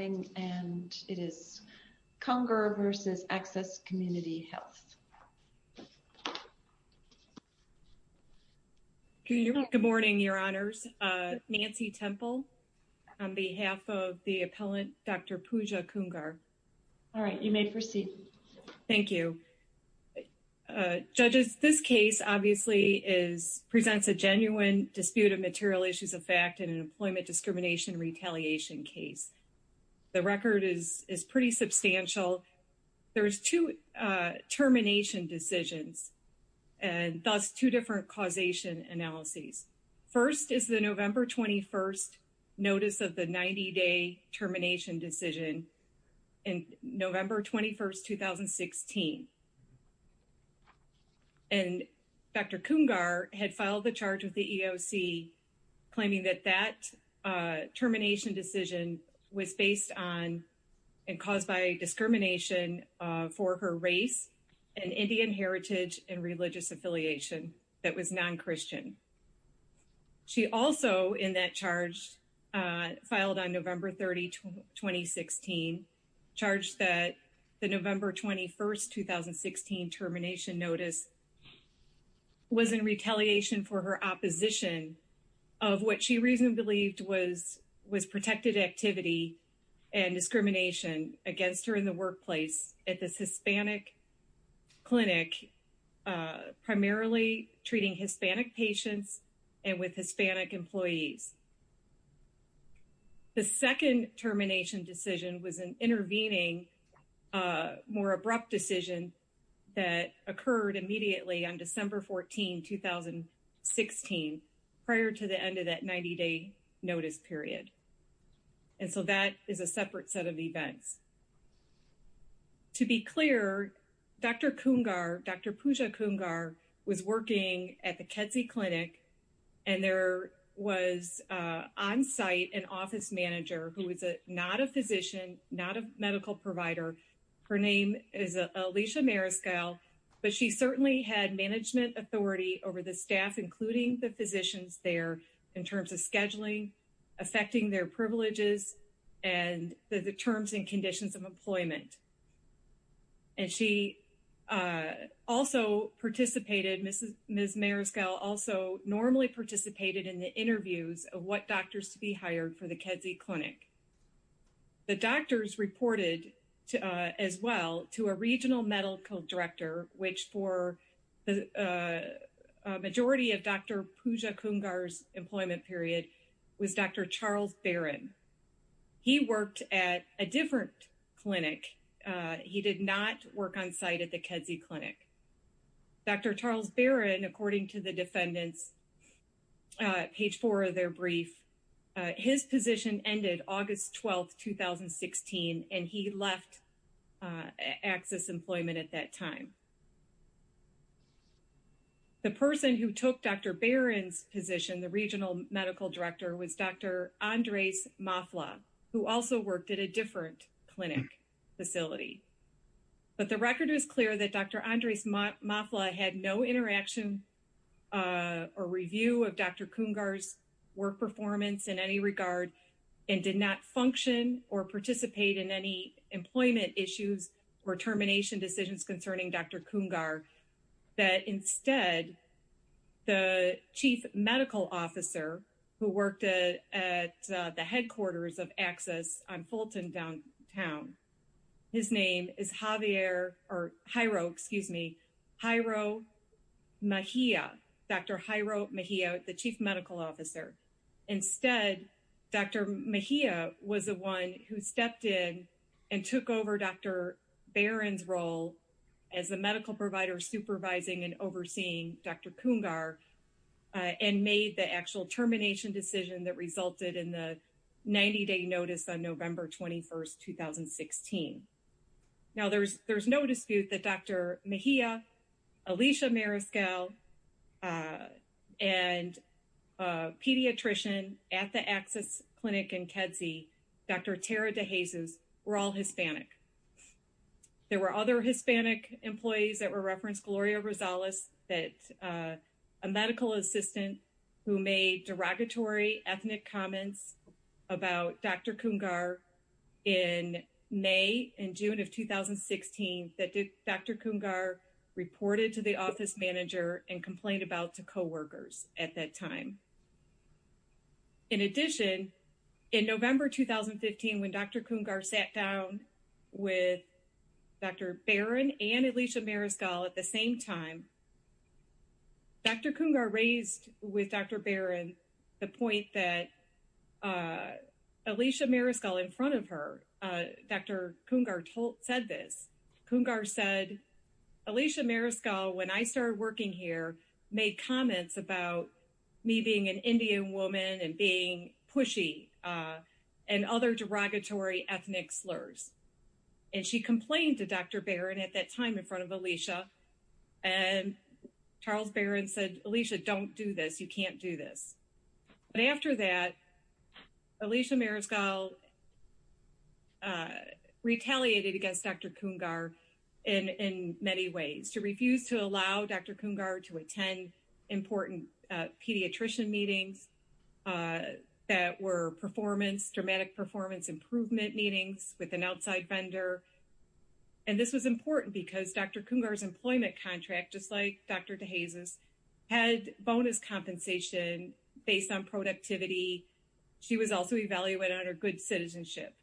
and it is Khungar versus Access Community Health. Good morning, your honors. Nancy Temple on behalf of the appellant, Dr. Pooja Khungar. All right, you may proceed. Thank you. Judges, this case obviously presents a genuine dispute of material issues of fact in an employment discrimination retaliation case. The record is pretty substantial. There's two termination decisions and thus two different causation analyses. First is the November 21st notice of the 90-day termination decision in November 21st, 2016. And Dr. Khungar had filed the charge with the EOC claiming that that termination decision was based on and caused by discrimination for her race and Indian heritage and religious affiliation that was non-Christian. She also in that charge filed on November 30, 2016, charged that the November 21st, 2016 termination notice was in retaliation for her opposition of what she reasonably believed was protected activity and discrimination against her in the workplace at this Hispanic clinic, primarily treating Hispanic patients and with Hispanic intervening more abrupt decision that occurred immediately on December 14, 2016, prior to the end of that 90-day notice period. And so that is a separate set of events. To be clear, Dr. Khungar, Dr. Pooja Khungar was working at the Kedzie Clinic and there was on-site an office manager who was not a physician, not a medical provider. Her name is Alicia Mariscal, but she certainly had management authority over the staff, including the physicians there, in terms of scheduling, affecting their privileges, and the terms and conditions of employment. And she also participated, Ms. Mariscal also normally participated in the interviews of what doctors to be hired for the Kedzie Clinic. The doctors reported as well to a regional medical director, which for the majority of Dr. Pooja Khungar's employment period was Dr. Charles Barron. He worked at a different clinic. He did not work on-site at the Kedzie Clinic. Dr. Charles Barron, according to the defendant's page four of their brief, his position ended August 12, 2016, and he left access employment at that time. The person who took Dr. Barron's position, the regional medical director, was Dr. Andres Mafla, who also worked at a different clinic facility. But the record is clear that Dr. Andres Mafla had no interaction or review of Dr. Khungar's work performance in any regard and did not function or participate in any employment issues or termination decisions concerning Dr. Khungar. That instead, the chief medical officer who worked at the headquarters of Access on Fulton downtown, his name is Javier or Jairo, excuse me, Jairo Mejia, Dr. Jairo Mejia, the chief medical officer. Instead, Dr. Mejia was the one who stepped in and took over Dr. Barron's role as the medical provider supervising and overseeing Dr. Khungar and made the actual termination decision that resulted in the 90-day notice on November 21, 2016. Now, there's no dispute that Dr. Mejia, Alicia Mariscal, and a pediatrician at the Access Clinic in Kedzie, Dr. Tara DeJesus, were all Hispanic. There were other Hispanic employees that were referenced, Gloria Rosales, a medical assistant who made derogatory ethnic comments about Dr. Khungar in May and June of 2016 that Dr. Khungar reported to the office manager and complained about to coworkers at that time. In addition, in November 2015, when Dr. Khungar sat down with Dr. Barron and Alicia Mariscal at the same time, Dr. Khungar raised with Dr. Barron the point that Alicia Mariscal in front of her, Dr. Khungar said this. Khungar said, Alicia Mariscal, when I started working here, made comments about me being an Indian woman and being pushy and other derogatory ethnic slurs. And she complained to Dr. Barron at that time in front of Alicia, and Charles Barron said, Alicia, don't do this. You can't do this. But after that, Alicia Mariscal retaliated against Dr. Khungar in many ways. She refused to allow Dr. Khungar to attend important pediatrician meetings that were performance, dramatic performance improvement meetings with an outside vendor. And this was important because Dr. Khungar's employment contract, just like Dr. DeJesus, had bonus compensation based on productivity. She was also evaluated under good citizenship.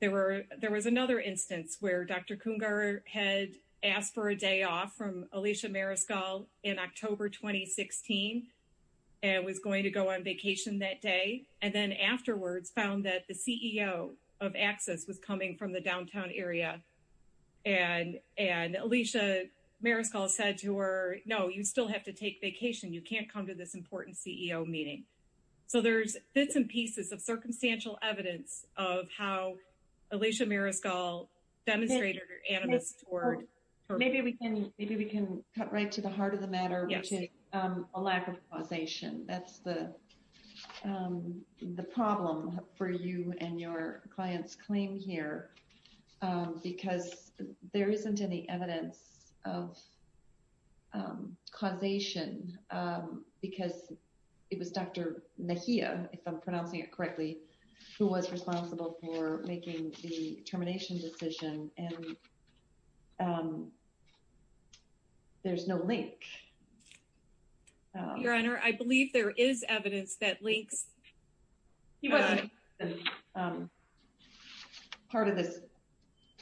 There was another instance where Dr. Khungar had asked for a day off from Alicia Mariscal in October 2016 and was going to go on vacation that day, and then afterwards found that the CEO of Axis was coming from the downtown area. And Alicia Mariscal said to her, no, you still have to take vacation. You can't come to this important CEO meeting. So there's bits and pieces of circumstantial evidence of how Alicia Mariscal demonstrated her animus toward her. Maybe we can cut right to the heart of the matter, which is a lack of causation. That's the problem for you and your client's claim here, because there isn't any evidence of causation because it was Dr. Mejia, if I'm pronouncing it correctly, who was responsible for making the termination decision, and there's no link. Your Honor, I believe there is evidence that links. He wasn't part of this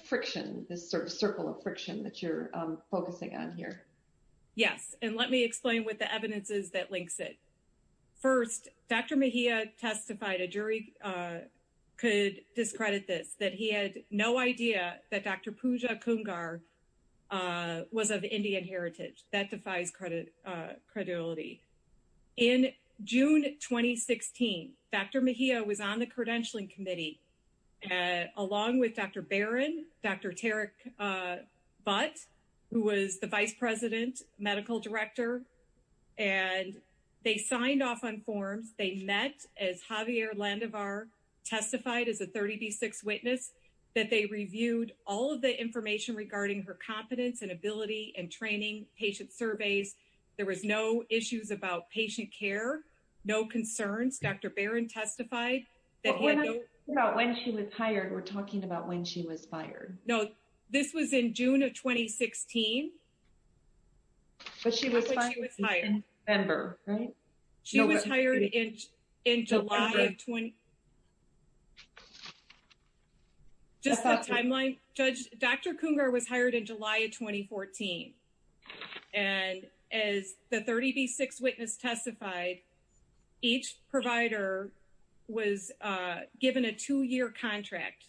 friction, this sort of circle of friction that you're focusing on here. Yes, and let me explain what the evidence is that links it. First, Dr. Mejia testified a jury could discredit this, that he had no idea that Dr. Pooja Khungar was of Indian heritage. That defies credibility. In June 2016, Dr. Mejia was on the credentialing committee, along with Dr. Barron, Dr. Tarek Butt, who was the vice president, medical director, and they signed off on forms. They met, as Javier Landivar testified as a 30B6 witness, that they reviewed all of the information regarding her competence and ability and training, patient surveys. There was no issues about patient care, no concerns. Dr. Barron testified that he had no... When she was hired, we're talking about when she was fired. No, this was in June of 2016. But she was fired in November, right? She was hired in July of 20... Just the timeline. Dr. Khungar was hired in July of 2014. And as the 30B6 witness testified, each provider was given a two-year contract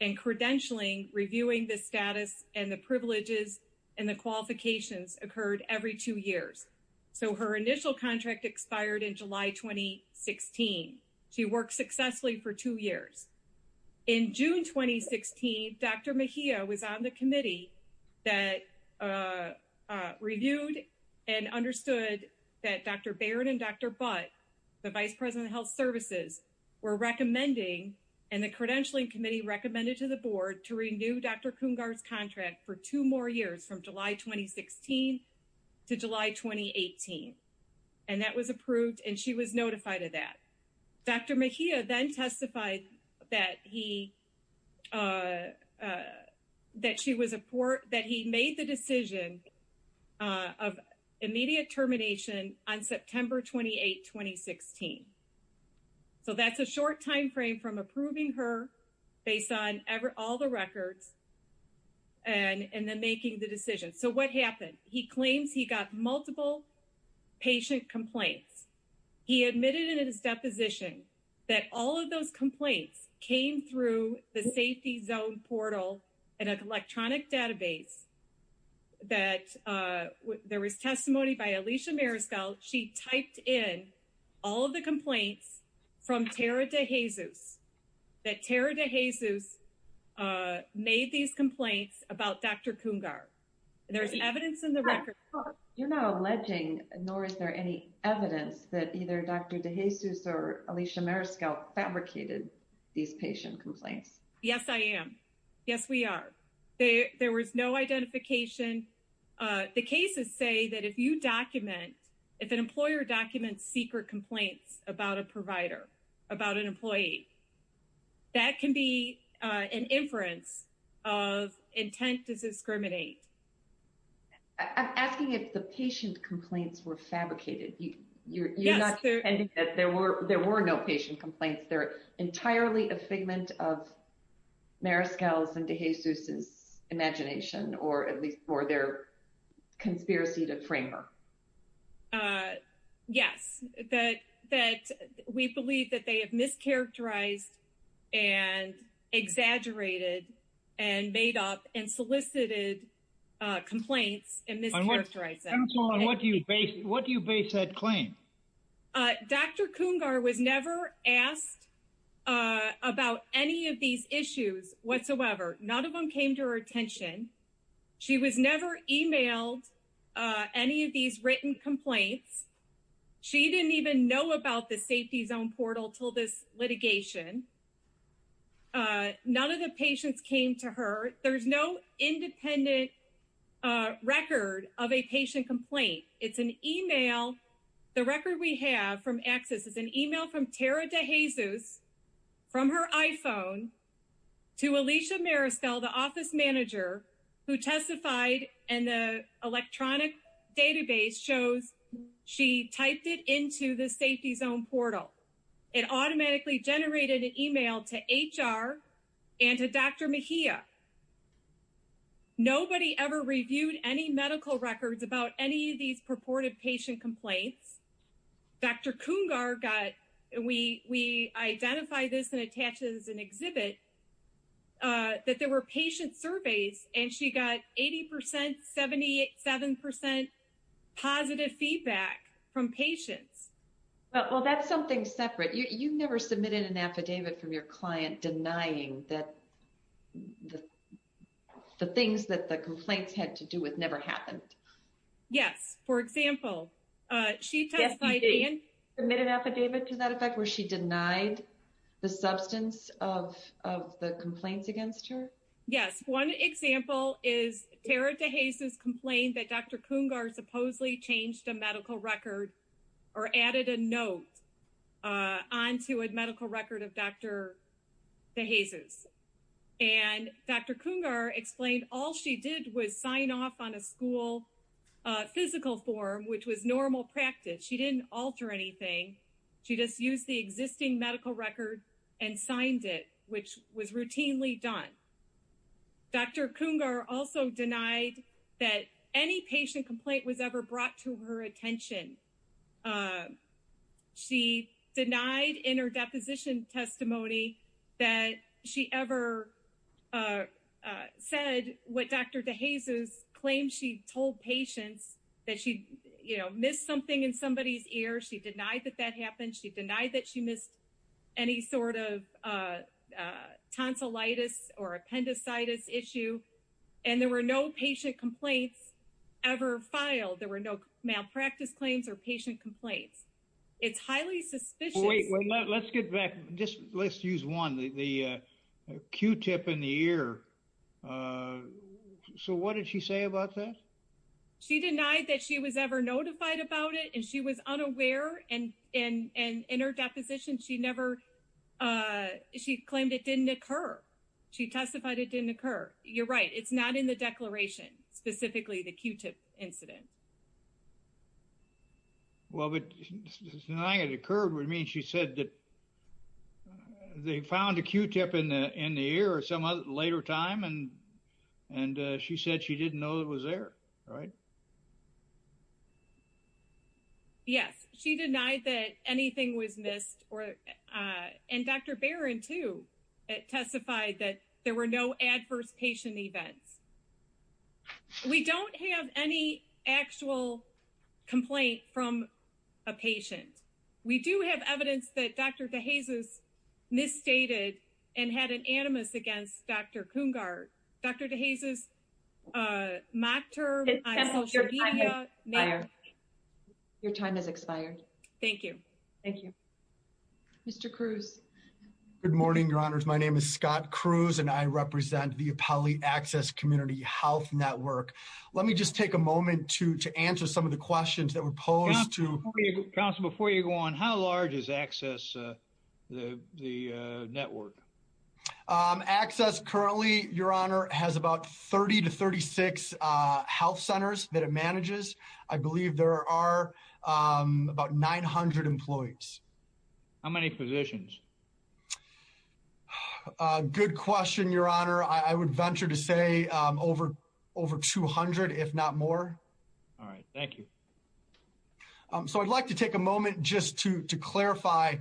and credentialing, reviewing the status and privileges and the qualifications occurred every two years. So, her initial contract expired in July 2016. She worked successfully for two years. In June 2016, Dr. Mejia was on the committee that reviewed and understood that Dr. Barron and Dr. Butt, the vice president of health services, were recommending, and the credentialing committee recommended to the board to renew Dr. Khungar's contract for two more years, from July 2016 to July 2018. And that was approved, and she was notified of that. Dr. Mejia then testified that he... That she was... That he made the decision of immediate termination on September 28, 2016. So, that's a short time frame from approving her based on all the records and then making the decision. So, what happened? He claims he got multiple patient complaints. He admitted in his deposition that all of those complaints came through the safety zone portal and an electronic database that there was testimony by Alicia Maryskel. She typed in all of the complaints from Tara DeJesus, that Tara DeJesus made these complaints about Dr. Khungar. There's evidence in the record. You're not alleging, nor is there any evidence that either Dr. DeJesus or Alicia Maryskel fabricated these patient complaints? Yes, I am. Yes, we are. There was no identification. The cases say that if you document, if an employer documents secret complaints about a provider, about an employee, that can be an inference of intent to discriminate. I'm asking if the patient complaints were fabricated. You're not defending that there were no patient complaints. They're entirely a figment of Maryskel's and DeJesus's imagination, or at least for their conspiracy to frame her. Yes, that we believe that they have mischaracterized and exaggerated and made up and solicited complaints and mischaracterized them. And what do you base that claim? Dr. Khungar was never asked about any of these issues whatsoever. None of them came to her attention. She was never emailed any of these written complaints. She didn't even know about the safety zone portal till this litigation. None of the patients came to her. There's no independent record of a patient complaint. It's an email. The record we have from Access is an email from Tara DeJesus from her iPhone to Alicia Maryskel, the office manager who testified. And the electronic database shows she typed it into the safety zone portal. It automatically generated an email to HR and to Dr. Mejia. Nobody ever reviewed any medical records about any of these purported patient complaints. Dr. Khungar got, we identify this and attach it as an exhibit, that there were patient surveys and she got 80%, 77% positive feedback from patients. Well, that's something separate. You've never submitted an affidavit from your client denying that the things that the complaints had to do with never happened. Yes. For example, she testified in- Submitted an affidavit to that effect where she denied the substance of the complaints against her? Yes. One example is Tara DeJesus complained that Dr. Khungar supposedly changed a medical record or added a note onto a medical record of Dr. DeJesus. And Dr. Khungar explained all she did was sign off on a school physical form, which was normal practice. She didn't alter anything. She just used the existing medical record and signed it, which was routinely done. Dr. Khungar also denied that any patient complaint was ever brought to her attention. She denied in her deposition testimony that she ever said what Dr. DeJesus claimed she told patients that she missed something in somebody's ear. She denied that that happened. She denied that she missed any sort of tonsillitis or appendicitis issue. And there were no patient complaints ever filed. There were no malpractice claims or patient complaints. It's highly suspicious. Wait, let's get back. Just let's use one, the Q-tip in the ear. So what did she say about that? She denied that she was ever notified about it and she was unaware. And in her deposition, she never- She claimed it didn't occur. She testified it didn't occur. You're right. It's not in the declaration, specifically the Q-tip incident. Well, but denying it occurred would mean she said that they found a Q-tip in the ear at some later time, and she said she didn't know it was there, right? Yes, she denied that anything was missed. And Dr. Barron, too, testified that there were no adverse patient events. We don't have any actual complaint from a patient. We do have evidence that Dr. DeJesus misstated and had an animus against Dr. Coongar. Dr. DeJesus, Mokhtar- It's canceled. Your time has expired. Your time has expired. Thank you. Mr. Cruz. Good morning, Your Honors. My name is Scott Cruz, and I represent the Appellee Access Community Health Network. Let me just take a moment to answer some of the questions that were posed to- Counsel, before you go on, how large is Access the network? Access currently, Your Honor, has about 30 to 36 health centers that it manages. I believe there are about 900 employees. How many positions? Good question, Your Honor. I would venture to say over 200, if not more. All right. Thank you. So I'd like to take a moment just to clarify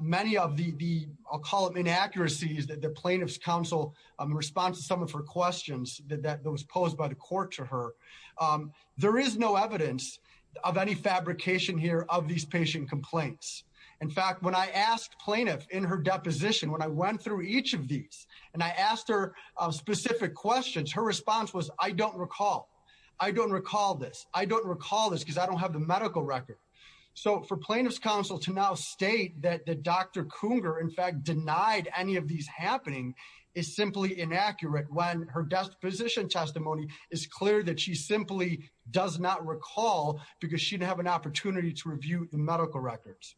many of the- I'll call it inaccuracies that the plaintiff's counsel responds to some of her questions that was posed by the court to her. There is no evidence of any fabrication here of these patient complaints. In fact, when I asked plaintiff in her deposition, when I went through each of these, and I asked her specific questions, her response was, I don't recall. I don't recall this. I don't recall this because I don't have the medical record. So for plaintiff's counsel to now state that Dr. Kunger, in fact, denied any of these happening is simply inaccurate when her disposition testimony is clear that she simply does not recall because she didn't have an opportunity to review the medical records.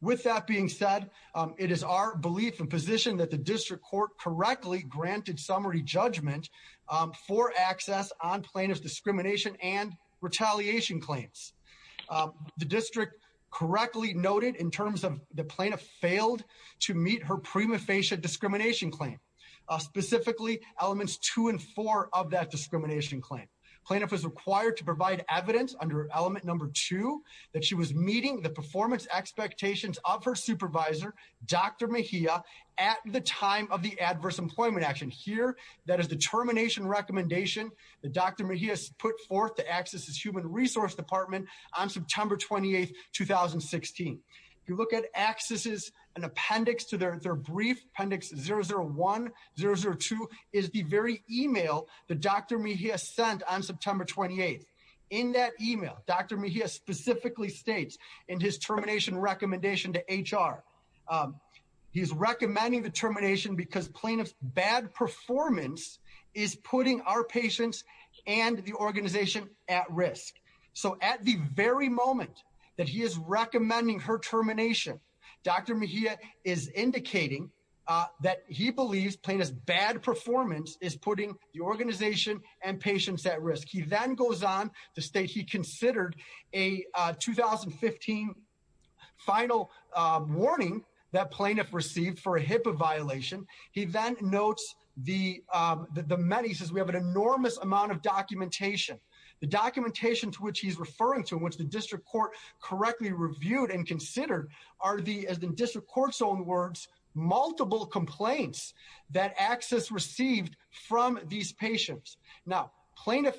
With that being said, it is our belief and position that the district court correctly granted summary judgment for access on plaintiff's discrimination and retaliation claims. The district correctly noted in terms of the plaintiff failed to meet her prima facie discrimination claim, specifically elements two and four of that discrimination claim. Plaintiff was required to provide evidence under element number two that she was meeting the performance expectations of her supervisor, Dr. Mejia at the time of the adverse employment action. Here, that is the termination recommendation that Dr. Mejia put forth to access his human resource department on September 28th, 2016. If you look at accesses and appendix to their brief appendix 001, 002 is the very email that Dr. Mejia sent on September 28th. In that email, Dr. Mejia specifically states in his termination recommendation to HR, he's recommending the termination because plaintiff's bad performance is putting our patients and the organization at risk. So at the very moment that he is recommending her termination, Dr. Mejia is indicating that he believes plaintiff's bad performance is putting the organization and patients at risk. He then goes on to state he considered a 2015 final warning that plaintiff received for a HIPAA violation. He then notes the many, he says we have an enormous amount of documentation. The documentation to which he's referring to, which the district court correctly reviewed and considered are the, as the district court's own words, multiple complaints that access received from these patients. Now, plaintiff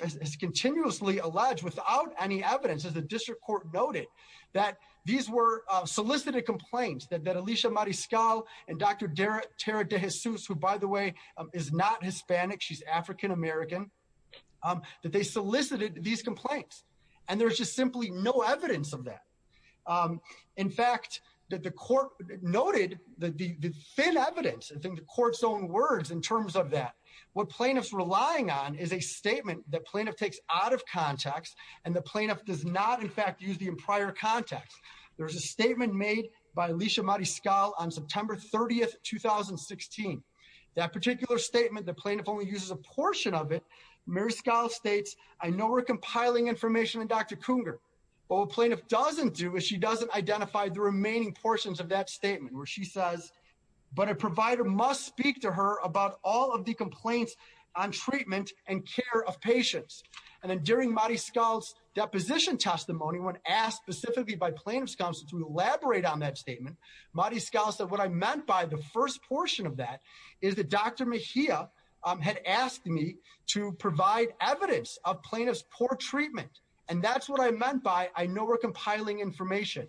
has continuously alleged without any evidence, as the district court noted, that these were solicited complaints that Alicia Mariscal and Dr. Tara DeJesus, who by the way is not Hispanic, she's African American, that they solicited these complaints. And there's just simply no evidence of that. In fact, that the court noted the thin evidence, I think the court's own words in terms of what plaintiff's relying on is a statement that plaintiff takes out of context and the plaintiff does not in fact use the prior context. There's a statement made by Alicia Mariscal on September 30th, 2016. That particular statement, the plaintiff only uses a portion of it. Mariscal states, I know we're compiling information with Dr. Cougar. What plaintiff doesn't do is she doesn't identify the remaining portions of that statement where she says, but a provider must speak to her about all of the complaints on treatment and care of patients. And then during Mariscal's deposition testimony, when asked specifically by plaintiff's counsel to elaborate on that statement, Mariscal said, what I meant by the first portion of that is that Dr. Mejia had asked me to provide evidence of plaintiff's poor treatment. And that's what I meant by, I know we're compiling information.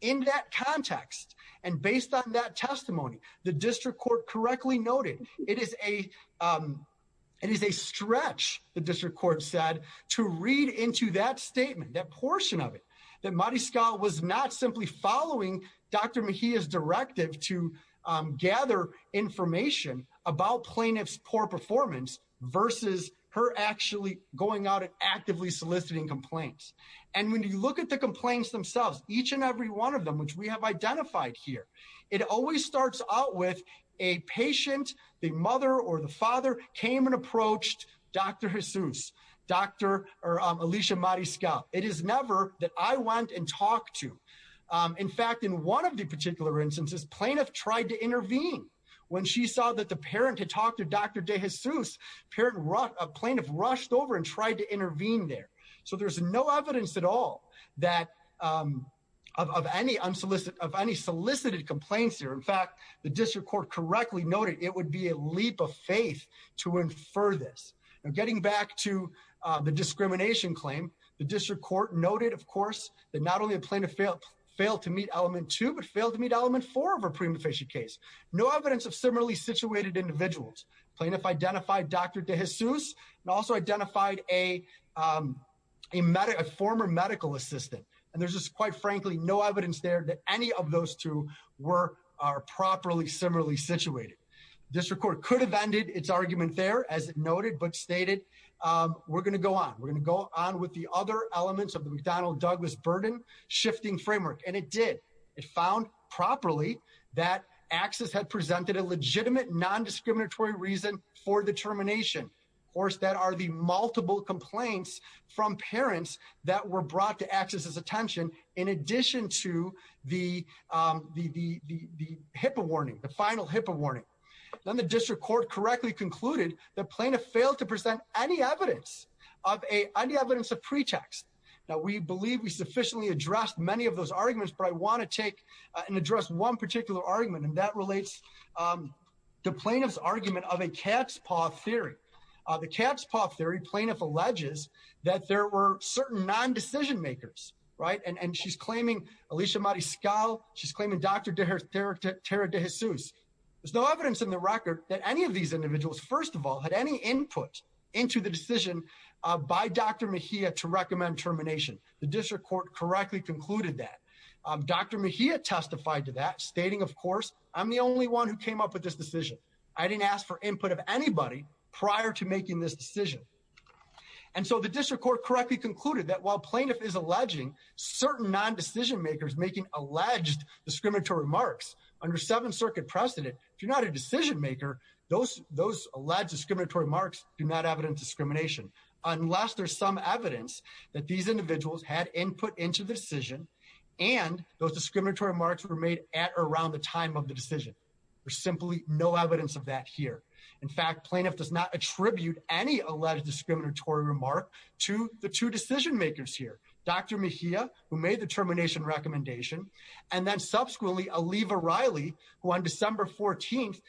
In that context, and based on that testimony, the district court correctly noted it is a stretch, the district court said, to read into that statement, that portion of it, that Mariscal was not simply following Dr. Mejia's directive to gather information about plaintiff's poor performance versus her actually going out and actively soliciting complaints. And when you look at the complaints themselves, each and every one of them, which we have identified here, it always starts out with a patient, the mother or the father came and approached Dr. Jesus, Dr. Alicia Mariscal. It is never that I went and talked to. In fact, in one of the particular instances, plaintiff tried to intervene. When she saw that the parent had talked to Dr. Jesus, a plaintiff rushed over and tried to intervene there. So there's no evidence at all of any solicited complaints here. In fact, the district court correctly noted it would be a leap of faith to infer this. Now getting back to the discrimination claim, the district court noted, of course, that not only a plaintiff failed to meet element two, but failed to meet element four of a prima facie case. No evidence of similarly situated individuals. Plaintiff identified Dr. Jesus and also identified a former medical assistant. And there's just quite frankly, no evidence there that any of those two were are properly similarly situated. District court could have ended its argument there as noted, but stated, we're going to go on. We're going to go on with the other elements of the McDonnell Douglas burden shifting framework. And it did, it found properly that access had presented a legitimate non-discriminatory reason for the termination. Of course, that are the multiple complaints from parents that were brought to access as attention. In addition to the HIPAA warning, the final HIPAA warning. Then the district court correctly concluded the plaintiff failed to present any evidence of any evidence of pretext. Now we believe we sufficiently addressed many of those arguments, but I want to take and address one particular argument and that relates the plaintiff's argument of a cat's paw theory. The cat's paw theory plaintiff alleges that there were certain non-decision makers, right? And she's claiming Alicia Mariscal, she's claiming Dr. Tara DeJesus. There's no evidence in the record that any of these individuals, first of all, had any termination. The district court correctly concluded that Dr. Mejia testified to that stating, of course, I'm the only one who came up with this decision. I didn't ask for input of anybody prior to making this decision. And so the district court correctly concluded that while plaintiff is alleging certain non-decision makers making alleged discriminatory remarks under seven circuit precedent, if you're not a decision maker, those alleged discriminatory marks do not evidence discrimination unless there's some evidence that these individuals had input into the decision and those discriminatory marks were made at or around the time of the decision. There's simply no evidence of that here. In fact, plaintiff does not attribute any alleged discriminatory remark to the two decision makers here, Dr. Mejia, who made the termination recommendation, and then subsequently Aliva Riley, who on December 14th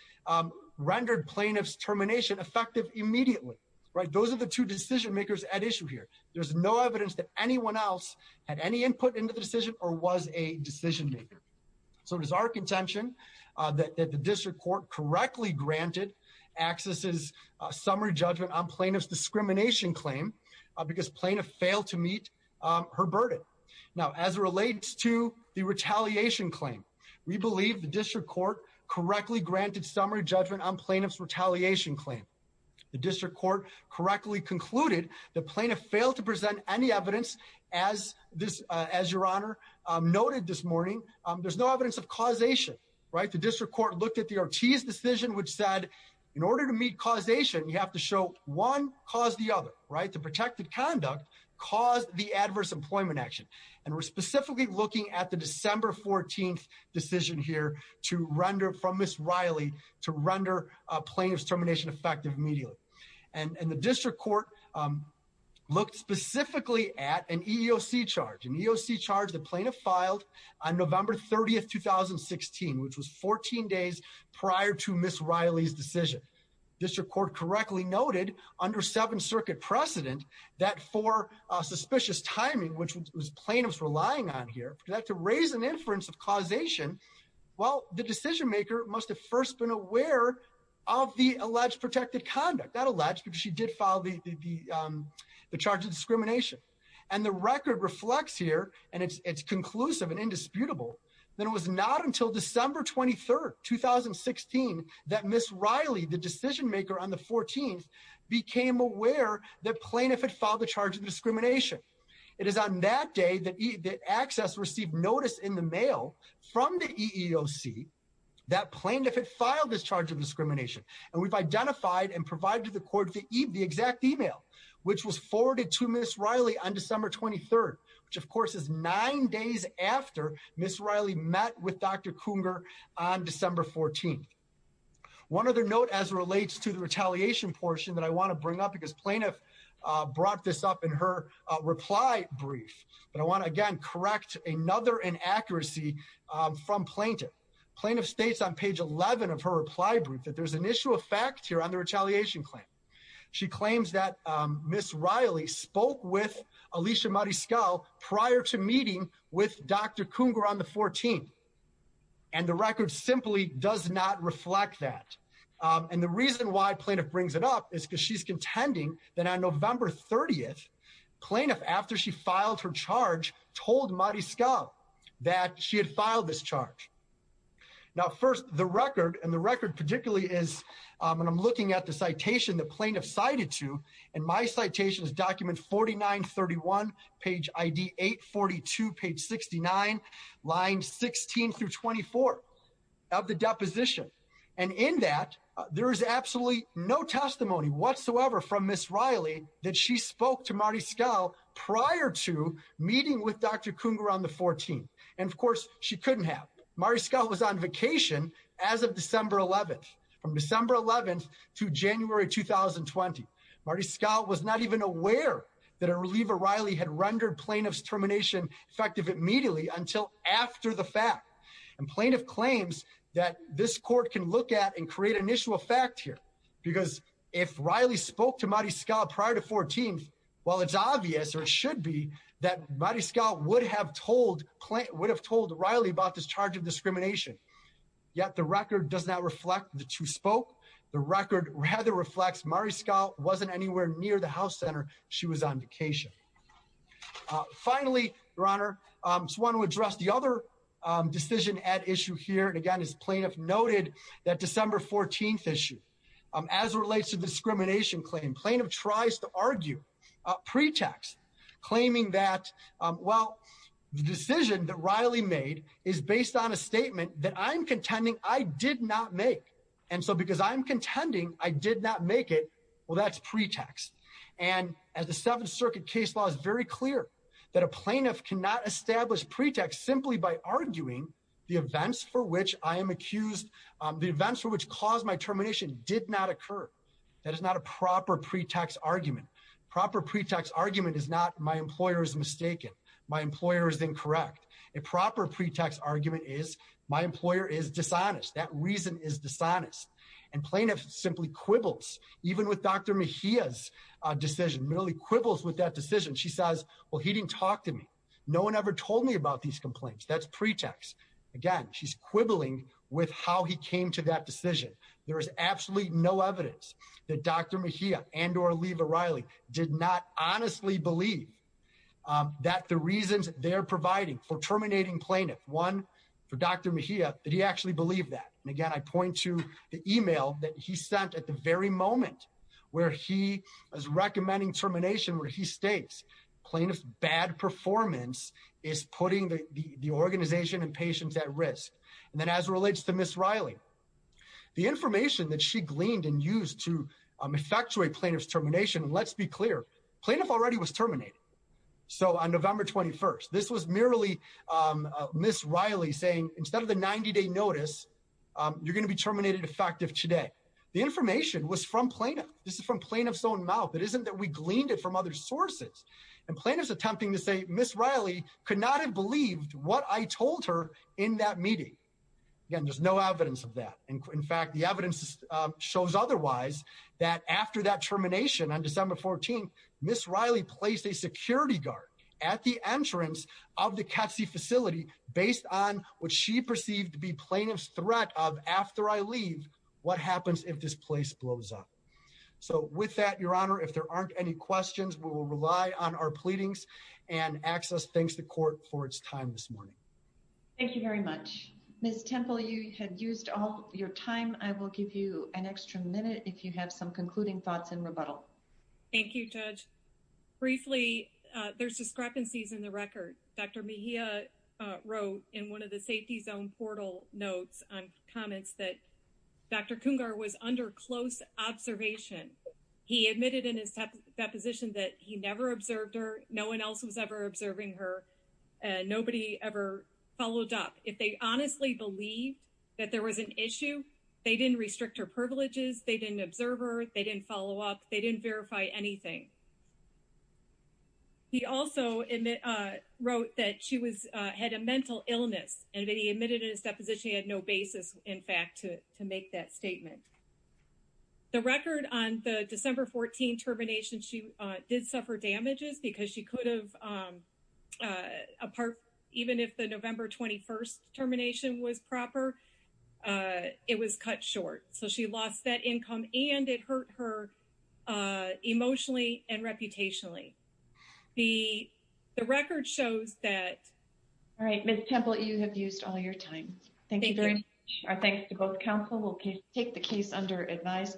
rendered plaintiff's termination effective immediately, right? There's no evidence that anyone else had any input into the decision or was a decision maker. So it is our contention that the district court correctly granted accesses summary judgment on plaintiff's discrimination claim because plaintiff failed to meet her burden. Now, as it relates to the retaliation claim, we believe the district court correctly granted summary judgment on plaintiff's retaliation claim. The district court correctly concluded the plaintiff failed to present any evidence as this, as your honor noted this morning, there's no evidence of causation, right? The district court looked at the Ortiz decision, which said in order to meet causation, you have to show one cause the other, right? To protect the conduct, cause the adverse employment action. And we're specifically looking at the December 14th decision here to render from Ms. Riley to render plaintiff's termination effective immediately. And the district court looked specifically at an EEOC charge. An EEOC charge the plaintiff filed on November 30th, 2016, which was 14 days prior to Ms. Riley's decision. District court correctly noted under Seventh Circuit precedent that for suspicious timing, which was plaintiff's relying on here to raise an inference of causation. Well, the decision maker must have first been aware of the alleged protected conduct that alleged because she did follow the charge of discrimination and the record reflects here and it's conclusive and indisputable. Then it was not until December 23rd, 2016, that Ms. Riley, the decision maker on the 14th became aware that plaintiff had followed the charge of discrimination. It is on that day that access received notice in the mail from the EEOC that plaintiff had filed this charge of discrimination. And we've identified and provided the court the exact email, which was forwarded to Ms. Riley on December 23rd, which of course is nine days after Ms. Riley met with Dr. Cougar on December 14th. One other note as it relates to the retaliation portion that I want to bring up because plaintiff brought this up in her reply brief. But I want to again correct another inaccuracy from plaintiff. Plaintiff states on page 11 of her reply brief that there's an issue of fact here on the retaliation claim. She claims that Ms. Riley spoke with Alicia Mariscal prior to meeting with Dr. Cougar on the 14th. And the record simply does not reflect that. And the reason why plaintiff brings it up is because she's contending that on November 30th, plaintiff, after she filed her charge, told Mariscal that she had filed this charge. Now, first, the record and the record particularly is when I'm looking at the citation that plaintiff cited to, and my citation is document 4931, page ID 842, page 69, lines 16 through 24 of the deposition. And in that, there is absolutely no testimony whatsoever from Ms. Riley that she spoke to Mariscal prior to meeting with Dr. Cougar on the 14th. And of course, she couldn't have. Mariscal was on vacation as of December 11th, from December 11th to January 2020. Mariscal was not even aware that a reliever Riley had rendered plaintiff's termination effective immediately until after the fact. And plaintiff claims that this court can look at and create an issue of fact here, because if Riley spoke to Mariscal prior to 14th, well, it's obvious or should be that Mariscal would have told Riley about this charge of discrimination. Yet the record does not reflect the two spoke. The record rather reflects Mariscal wasn't anywhere near the house center. She was on vacation. Finally, Your Honor, I just want to address the other decision at issue here. And again, as plaintiff noted, that December 14th issue, as it relates to discrimination claim, plaintiff tries to argue pretext, claiming that, well, the decision that Riley made is based on a statement that I'm contending I did not make. And so because I'm contending I did not make it, well, that's pretext. And as the Seventh Circuit case law is very clear that a plaintiff cannot establish pretext simply by arguing the events for which I am accused, the events for which caused my termination did not occur. That is not a proper pretext argument. Proper pretext argument is not my employer is mistaken. My employer is incorrect. A proper pretext argument is my employer is dishonest. That reason is dishonest. And plaintiff simply quibbles, even with Dr. Mejia's decision, really quibbles with that decision. She says, well, he didn't talk to me. No one ever told me about these complaints. That's pretext. Again, she's quibbling with how he came to that decision. There is absolutely no evidence that Dr. Mejia and or Leva Riley did not honestly believe that the reasons they're providing for terminating plaintiff, one, for Dr. Mejia, that he actually believed that. Again, I point to the email that he sent at the very moment where he is recommending termination where he states plaintiff's bad performance is putting the organization and patients at risk. And then as it relates to Ms. Riley, the information that she gleaned and used to effectuate plaintiff's termination, let's be clear, plaintiff already was terminated. So on November 21st, this was merely Ms. Riley's 30 day notice. You're going to be terminated effective today. The information was from plaintiff. This is from plaintiff's own mouth. It isn't that we gleaned it from other sources. And plaintiff's attempting to say Ms. Riley could not have believed what I told her in that meeting. Again, there's no evidence of that. In fact, the evidence shows otherwise that after that termination on December 14th, Ms. Riley placed a security guard at the entrance of the CTSI facility based on what she perceived to be plaintiff's threat of after I leave, what happens if this place blows up? So with that, Your Honor, if there aren't any questions, we will rely on our pleadings and access. Thanks to court for its time this morning. Thank you very much, Ms. Temple. You had used all your time. I will give you an extra minute if you have some concluding thoughts in rebuttal. Thank you, Judge. Briefly, there's discrepancies in the record. Dr. Mejia wrote in one of the safety zone portal notes on comments that Dr. Kungar was under close observation. He admitted in his deposition that he never observed her. No one else was ever observing her. Nobody ever followed up. If they honestly believed that there was an issue, they didn't restrict her privileges. They didn't observe her. They didn't follow up. They didn't verify anything. He also wrote that she had a mental illness, and he admitted in his deposition he had no basis, in fact, to make that statement. The record on the December 14 termination, she did suffer damages because she could have apart, even if the November 21st termination was proper, it was cut short. She lost that income, and it hurt her emotionally and reputationally. The record shows that. All right, Ms. Temple, you have used all your time. Thank you very much. Our thanks to both counsel. We'll take the case under advisement.